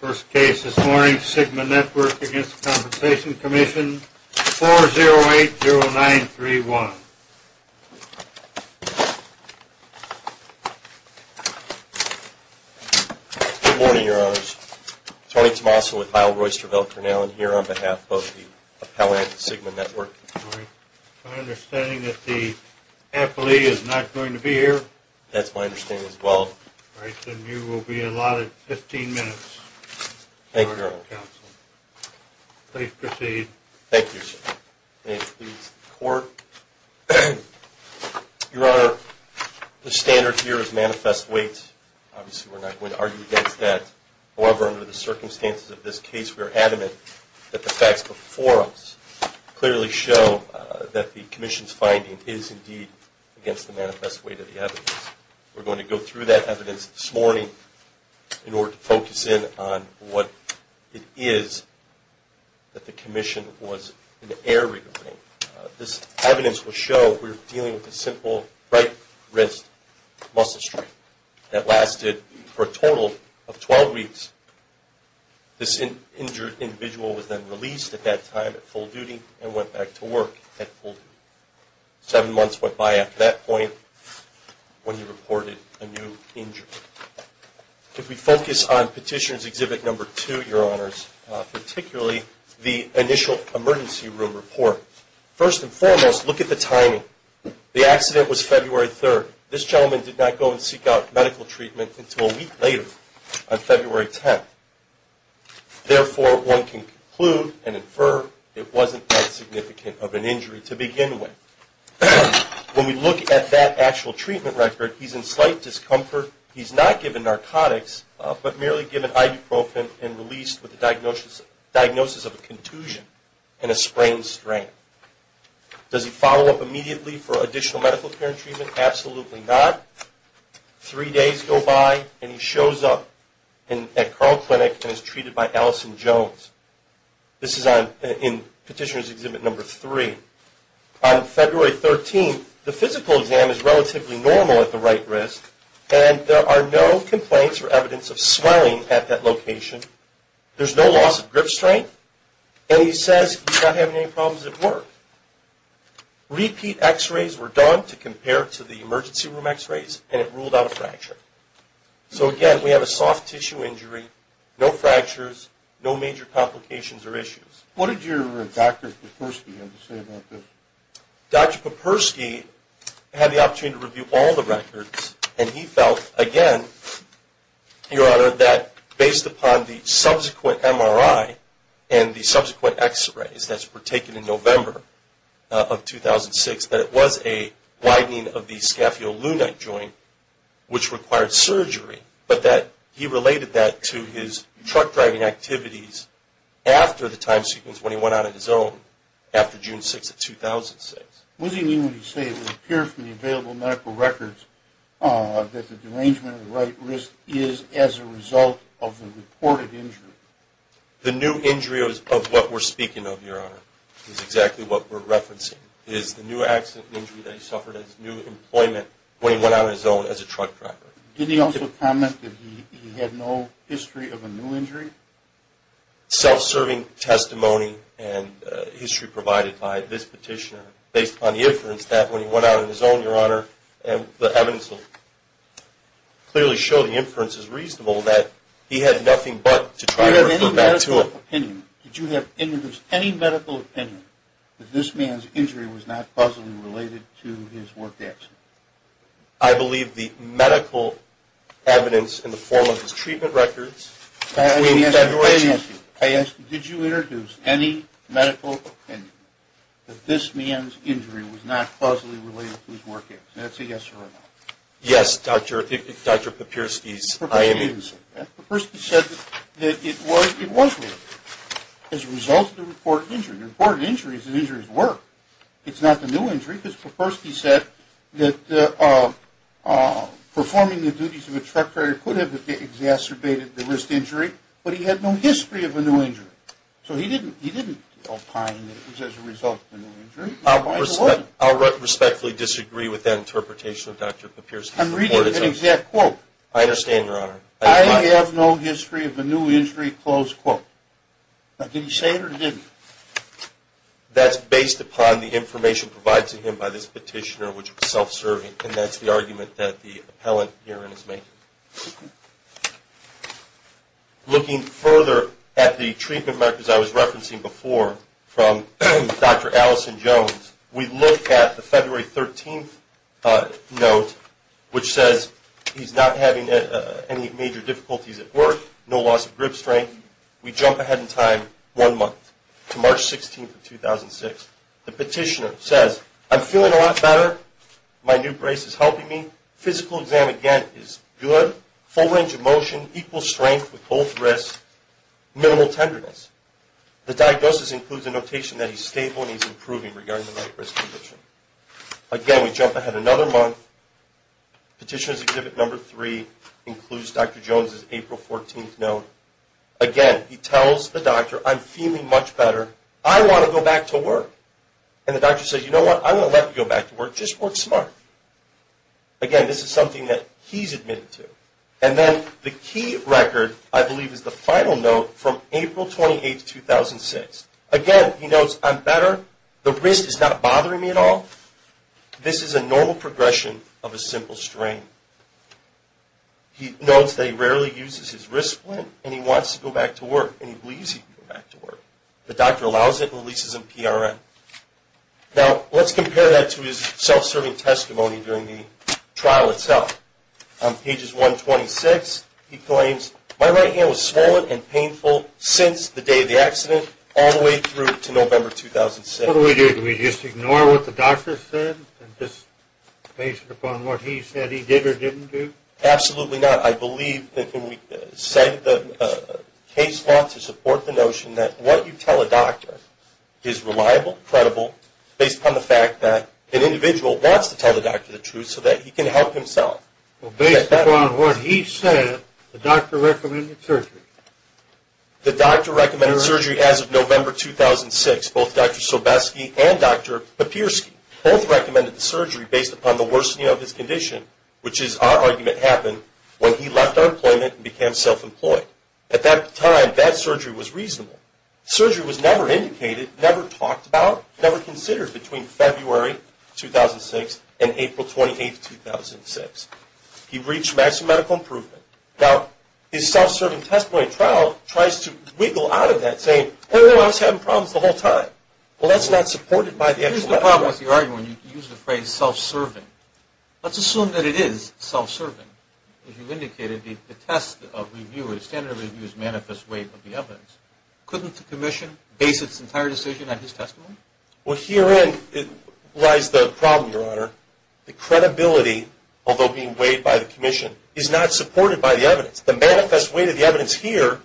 First case this morning, Sigma Network v. The Workers' Compensation Commission, 4080931. Good morning, Your Honors. Tony Tomaso with Kyle Royster of Elk Grinnellen here on behalf of the appellant at Sigma Network. My understanding is that the appellee is not going to be here? That's my understanding as well. All right, then you will be allotted 15 minutes. Thank you, Your Honor. Please proceed. Thank you, sir. May it please the Court. Your Honor, the standard here is manifest weight. Obviously, we're not going to argue against that. However, under the circumstances of this case, we are adamant that the facts before us clearly show that the commission's finding is indeed against the manifest weight of the evidence. We're going to go through that evidence this morning in order to focus in on what it is that the commission was in error regarding. This evidence will show we're dealing with a simple right wrist muscle strain that lasted for a total of 12 weeks. This injured individual was then released at that time at full duty and went back to work at full duty. Seven months went by at that point when he reported a new injury. If we focus on Petitioner's Exhibit No. 2, Your Honors, particularly the initial emergency room report, first and foremost, look at the timing. The accident was February 3rd. This gentleman did not go and seek out medical treatment until a week later on February 10th. Therefore, one can conclude and infer it wasn't that significant of an injury to begin with. When we look at that actual treatment record, he's in slight discomfort. He's not given narcotics but merely given ibuprofen and released with a diagnosis of a contusion and a sprained strain. Does he follow up immediately for additional medical care and treatment? Absolutely not. Three days go by and he shows up at Carl Clinic and is treated by Allison Jones. This is in Petitioner's Exhibit No. 3. On February 13th, the physical exam is relatively normal at the right wrist and there are no complaints or evidence of swelling at that location. There's no loss of grip strength and he says he's not having any problems at work. Repeat x-rays were done to compare to the emergency room x-rays and it ruled out a fracture. So again, we have a soft tissue injury, no fractures, no major complications or issues. What did your Dr. Poperski have to say about this? Dr. Poperski had the opportunity to review all the records and he felt, again, Your Honor, that based upon the subsequent MRI and the subsequent x-rays that were taken in November of 2006, that it was a widening of the scaphio-lunite joint which required surgery, but that he related that to his truck driving activities after the time sequence when he went out on his own after June 6th of 2006. What does he mean when he says it will appear from the available medical records that the derangement at the right wrist is as a result of the reported injury? The new injury of what we're speaking of, Your Honor, is exactly what we're referencing. It is the new accident injury that he suffered at his new employment when he went out on his own as a truck driver. Did he also comment that he had no history of a new injury? Self-serving testimony and history provided by this petitioner based upon the inference that when he went out on his own, Your Honor, the evidence clearly showed the inference is reasonable that he had nothing but to try to refer back to him. Did you have any medical opinion that this man's injury was not possibly related to his work accident? I believe the medical evidence in the form of his treatment records, which we've fed right to you. I ask you, did you introduce any medical opinion that this man's injury was not possibly related to his work accident? That's a yes or a no. Yes, Dr. Papirsky's. Papirsky said that it was related as a result of the reported injury. The reported injury is the injury's work. It's not the new injury because Papirsky said that performing the duties of a truck driver could have exacerbated the wrist injury, but he had no history of a new injury. So he didn't opine that it was as a result of a new injury. I'll respectfully disagree with that interpretation of Dr. Papirsky's reported injury. I'm reading an exact quote. I understand, Your Honor. I have no history of a new injury, close quote. Now, did he say it or didn't he? That's based upon the information provided to him by this petitioner, which is self-serving, and that's the argument that the appellant herein is making. Looking further at the treatment records I was referencing before from Dr. Allison Jones, we look at the February 13th note, which says he's not having any major difficulties at work, no loss of grip strength. We jump ahead in time one month to March 16th of 2006. The petitioner says, I'm feeling a lot better. My new brace is helping me. Physical exam again is good. Full range of motion, equal strength with both wrists, minimal tenderness. The diagnosis includes a notation that he's stable and he's improving regarding the right wrist condition. Again, we jump ahead another month. Petitioner's exhibit number three includes Dr. Jones' April 14th note. Again, he tells the doctor, I'm feeling much better. I want to go back to work. And the doctor says, you know what? I'm going to let you go back to work. Just work smart. Again, this is something that he's admitted to. And then the key record, I believe, is the final note from April 28th, 2006. Again, he notes, I'm better. The wrist is not bothering me at all. This is a normal progression of a simple strain. He notes that he rarely uses his wrist splint, and he wants to go back to work, and he believes he can go back to work. The doctor allows it and releases him PRN. Now, let's compare that to his self-serving testimony during the trial itself. On pages 126, he claims, my right hand was swollen and painful since the day of the accident all the way through to November 2006. What do we do? Do we just ignore what the doctor said and just base it upon what he said he did or didn't do? Absolutely not. I believe that when we say the case law to support the notion that what you tell a doctor is reliable, credible, based upon the fact that an individual wants to tell the doctor the truth so that he can help himself. Based upon what he said, the doctor recommended surgery. The doctor recommended surgery as of November 2006. Both Dr. Sobeski and Dr. Papierski both recommended the surgery based upon the worsening of his condition, which is our argument happened when he left our employment and became self-employed. At that time, that surgery was reasonable. Surgery was never indicated, never talked about, never considered between February 2006 and April 28, 2006. He reached maximum medical improvement. Now, his self-serving testimony trial tries to wiggle out of that, saying, oh, I was having problems the whole time. Well, that's not supported by the actual evidence. Here's the problem with your argument when you use the phrase self-serving. Let's assume that it is self-serving. You indicated the test of review or the standard of review is manifest weight of the evidence. Couldn't the commission base its entire decision on his testimony? Well, herein lies the problem, Your Honor. The credibility, although being weighed by the commission, is not supported by the evidence. The manifest weight of the evidence here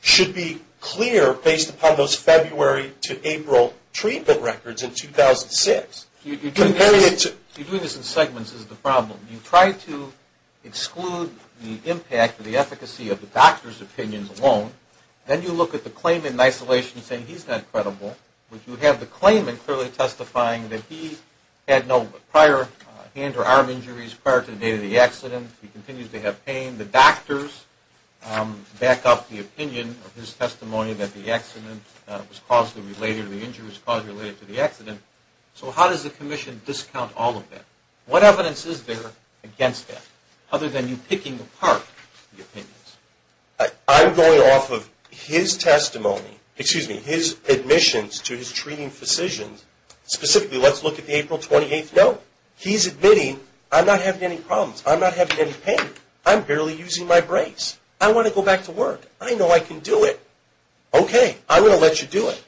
should be clear based upon those February to April treatment records in 2006. You're doing this in segments is the problem. You try to exclude the impact or the efficacy of the doctor's opinions alone. Then you look at the claimant in isolation saying he's not credible. But you have the claimant clearly testifying that he had no prior hand or arm injuries prior to the date of the accident. He continues to have pain. The doctors back up the opinion of his testimony that the accident was caused related to the injury or was caused related to the accident. So how does the commission discount all of that? What evidence is there against that other than you picking apart the opinions? I'm going off of his testimony, excuse me, his admissions to his treating physicians. Specifically, let's look at the April 28th note. He's admitting, I'm not having any problems. I'm not having any pain. I'm barely using my brace. I want to go back to work. I know I can do it. Okay, I'm going to let you do it.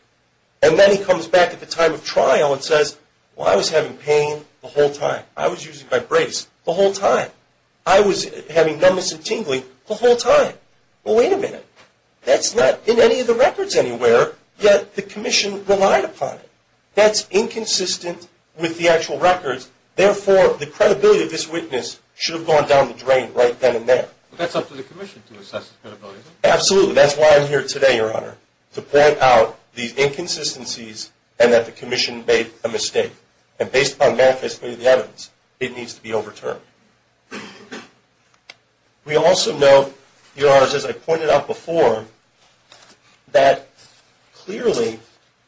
And then he comes back at the time of trial and says, well, I was having pain the whole time. I was using my brace the whole time. I was having numbness and tingling the whole time. Well, wait a minute. That's not in any of the records anywhere, yet the commission relied upon it. That's inconsistent with the actual records. Therefore, the credibility of this witness should have gone down the drain right then and there. But that's up to the commission to assess his credibility, isn't it? Absolutely. That's why I'm here today, Your Honor, to point out these inconsistencies and that the commission made a mistake. And based upon manifestly the evidence, it needs to be overturned. We also note, Your Honor, as I pointed out before, that clearly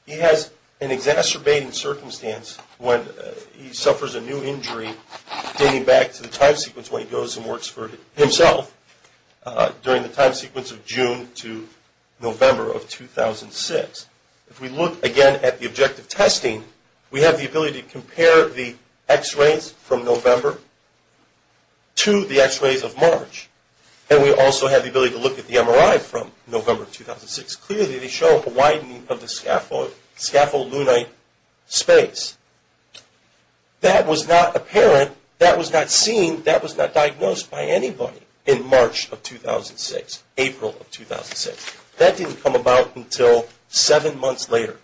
he has an exacerbating circumstance when he suffers a new injury, dating back to the time sequence when he goes and works for himself, during the time sequence of June to November of 2006. If we look again at the objective testing, we have the ability to compare the x-rays from November to the x-rays of March. And we also have the ability to look at the MRI from November of 2006. Clearly, they show a widening of the scapholunate space. That was not apparent. That was not seen. That was not diagnosed by anybody in March of 2006, April of 2006. That didn't come about until seven months later.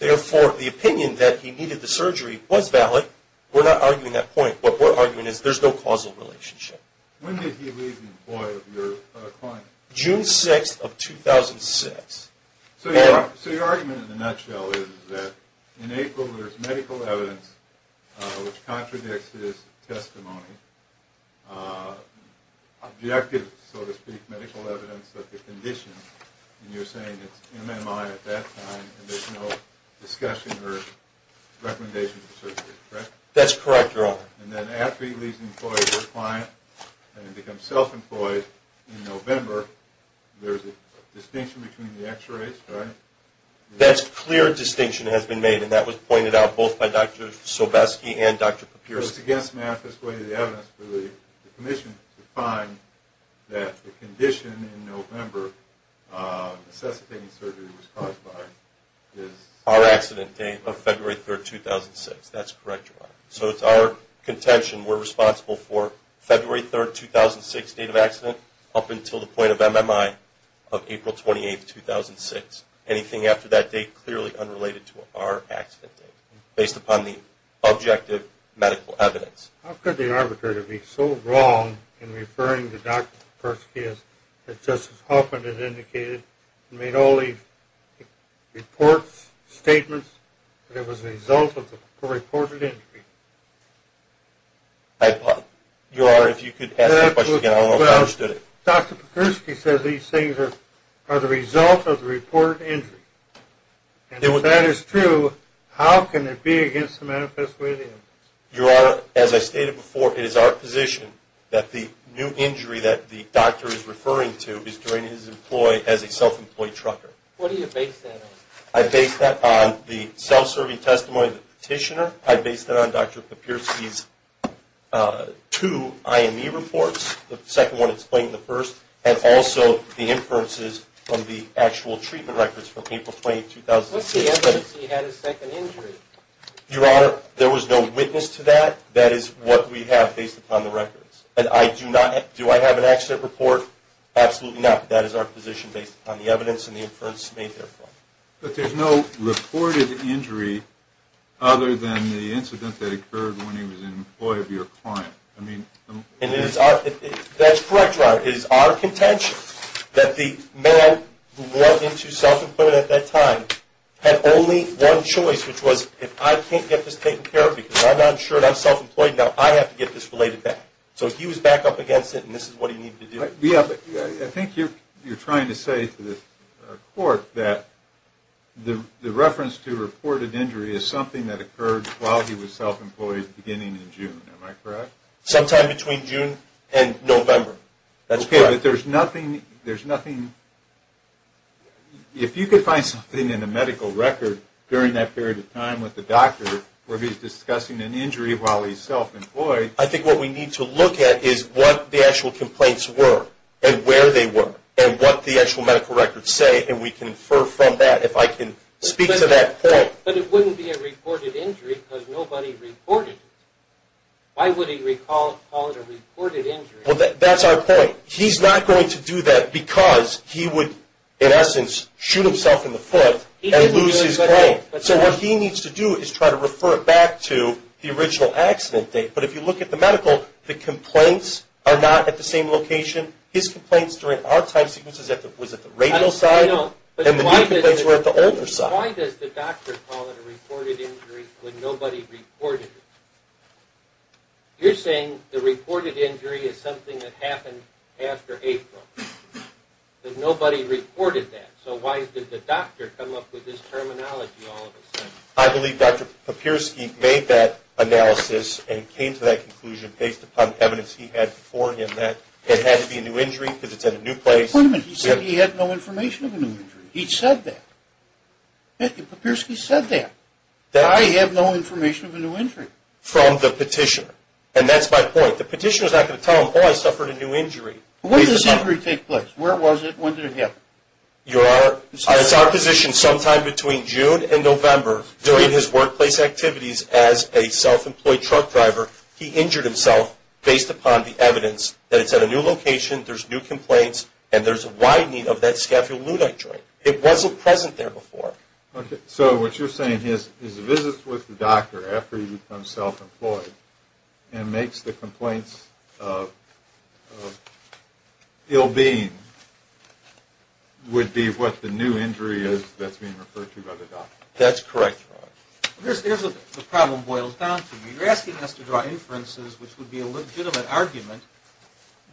Therefore, the opinion that he needed the surgery was valid. We're not arguing that point, but what we're arguing is there's no causal relationship. When did he leave the employment of your client? June 6th of 2006. So your argument in a nutshell is that in April there's medical evidence which contradicts his testimony, objective, so to speak, medical evidence that the condition, and you're saying it's MMI at that time and there's no discussion or recommendation of surgery, correct? That's correct, Your Honor. And then after he leaves the employment of your client and becomes self-employed in November, there's a distinction between the x-rays, right? That's a clear distinction that has been made, and that was pointed out both by Dr. Sobeski and Dr. Papiriski. It's against the manifest way of the evidence for the commission to find that the condition in November, necessitating surgery was caused by is? Our accident date of February 3rd, 2006. That's correct, Your Honor. So it's our contention we're responsible for February 3rd, 2006, date of accident, up until the point of MMI of April 28th, 2006. Anything after that date clearly unrelated to our accident date, based upon the objective medical evidence. How could the arbitrator be so wrong in referring to Dr. Papiriski as Justice Hoffman has indicated and made all these reports, statements, that it was the result of a reported injury? Your Honor, if you could ask that question again, I don't know if I understood it. Dr. Papiriski says these things are the result of the reported injury, and if that is true, how can it be against the manifest way of the evidence? Your Honor, as I stated before, it is our position that the new injury that the doctor is referring to is during his employ as a self-employed trucker. What do you base that on? I base that on the self-serving testimony of the petitioner. I base that on Dr. Papiriski's two IME reports, the second one explaining the first, and also the inferences from the actual treatment records from April 28th, 2006. What's the evidence he had a second injury? Your Honor, there was no witness to that. That is what we have based upon the records. Do I have an accident report? Absolutely not. That is our position based upon the evidence and the inference made therefore. But there's no reported injury other than the incident that occurred when he was an employee of your client. That's correct, Your Honor. It is our contention that the man who went into self-employment at that time had only one choice, which was if I can't get this taken care of because I'm not insured, I'm self-employed, now I have to get this related back. So he was back up against it, and this is what he needed to do. Yeah, but I think you're trying to say to the court that the reference to reported injury is something that occurred while he was self-employed beginning in June. Am I correct? Sometime between June and November. That's correct. Okay, but there's nothing. If you could find something in the medical record during that period of time with the doctor where he's discussing an injury while he's self-employed. I think what we need to look at is what the actual complaints were and where they were and what the actual medical records say, and we can infer from that if I can speak to that point. But it wouldn't be a reported injury because nobody reported it. Why would he call it a reported injury? Well, that's our point. He's not going to do that because he would, in essence, shoot himself in the foot and lose his claim. So what he needs to do is try to refer it back to the original accident date. But if you look at the medical, the complaints are not at the same location. His complaints during our time sequence was at the radial side, and the new complaints were at the older side. Why does the doctor call it a reported injury when nobody reported it? You're saying the reported injury is something that happened after April, but nobody reported that. So why did the doctor come up with this terminology all of a sudden? I believe Dr. Papirsky made that analysis and came to that conclusion based upon evidence he had before him that it had to be a new injury because it's at a new place. Wait a minute. He said he had no information of a new injury. He said that. Dr. Papirsky said that. I have no information of a new injury. From the petitioner. And that's my point. The petitioner is not going to tell him, oh, I suffered a new injury. When did this injury take place? Where was it? When did it happen? Your Honor, it's our position sometime between June and November, during his workplace activities as a self-employed truck driver, he injured himself based upon the evidence that it's at a new location, there's new complaints, and there's a wide need of that scaffolding joint. It wasn't present there before. So what you're saying is his visits with the doctor after he becomes self-employed and makes the complaints of ill-being would be what the new injury is that's being referred to by the doctor. That's correct, Your Honor. Here's where the problem boils down to. You're asking us to draw inferences, which would be a legitimate argument,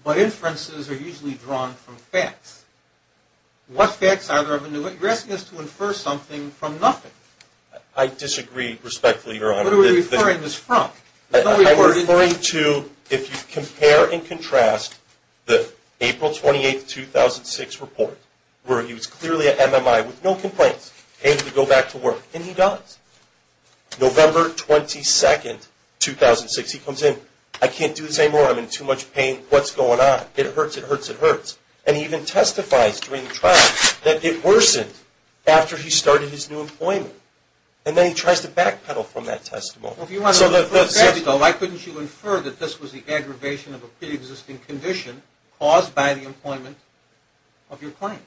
but inferences are usually drawn from facts. What facts are there of a new injury? You're asking us to infer something from nothing. I disagree respectfully, Your Honor. What are we referring this from? I'm referring to, if you compare and contrast the April 28, 2006 report, where he was clearly at MMI with no complaints, able to go back to work. And he does. November 22, 2006, he comes in, I can't do this anymore, I'm in too much pain, what's going on? It hurts, it hurts, it hurts. And he even testifies during the trial that it worsened after he started his new employment. And then he tries to backpedal from that testimony. Well, if you want to look at the facts, though, why couldn't you infer that this was the aggravation of a preexisting condition caused by the employment of your client?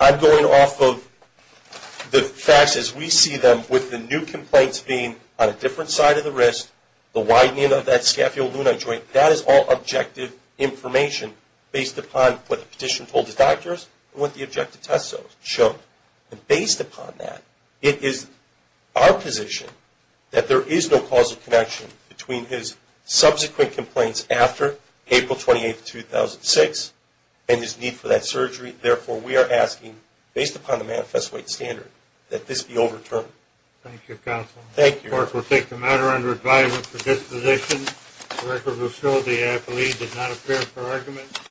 I'm going off of the facts as we see them with the new complaints being on a different side of the wrist, the widening of that scaphio-lunar joint, that is all objective information based upon what the petitioner told his doctors and what the objective test showed. And based upon that, it is our position that there is no causal connection between his subsequent complaints after April 28, 2006 and his need for that surgery. Therefore, we are asking, based upon the manifest weight standard, that this be overturned. Thank you, counsel. Thank you. This court will take the matter under advisement for disposition. The record will show the athlete did not appear for argument.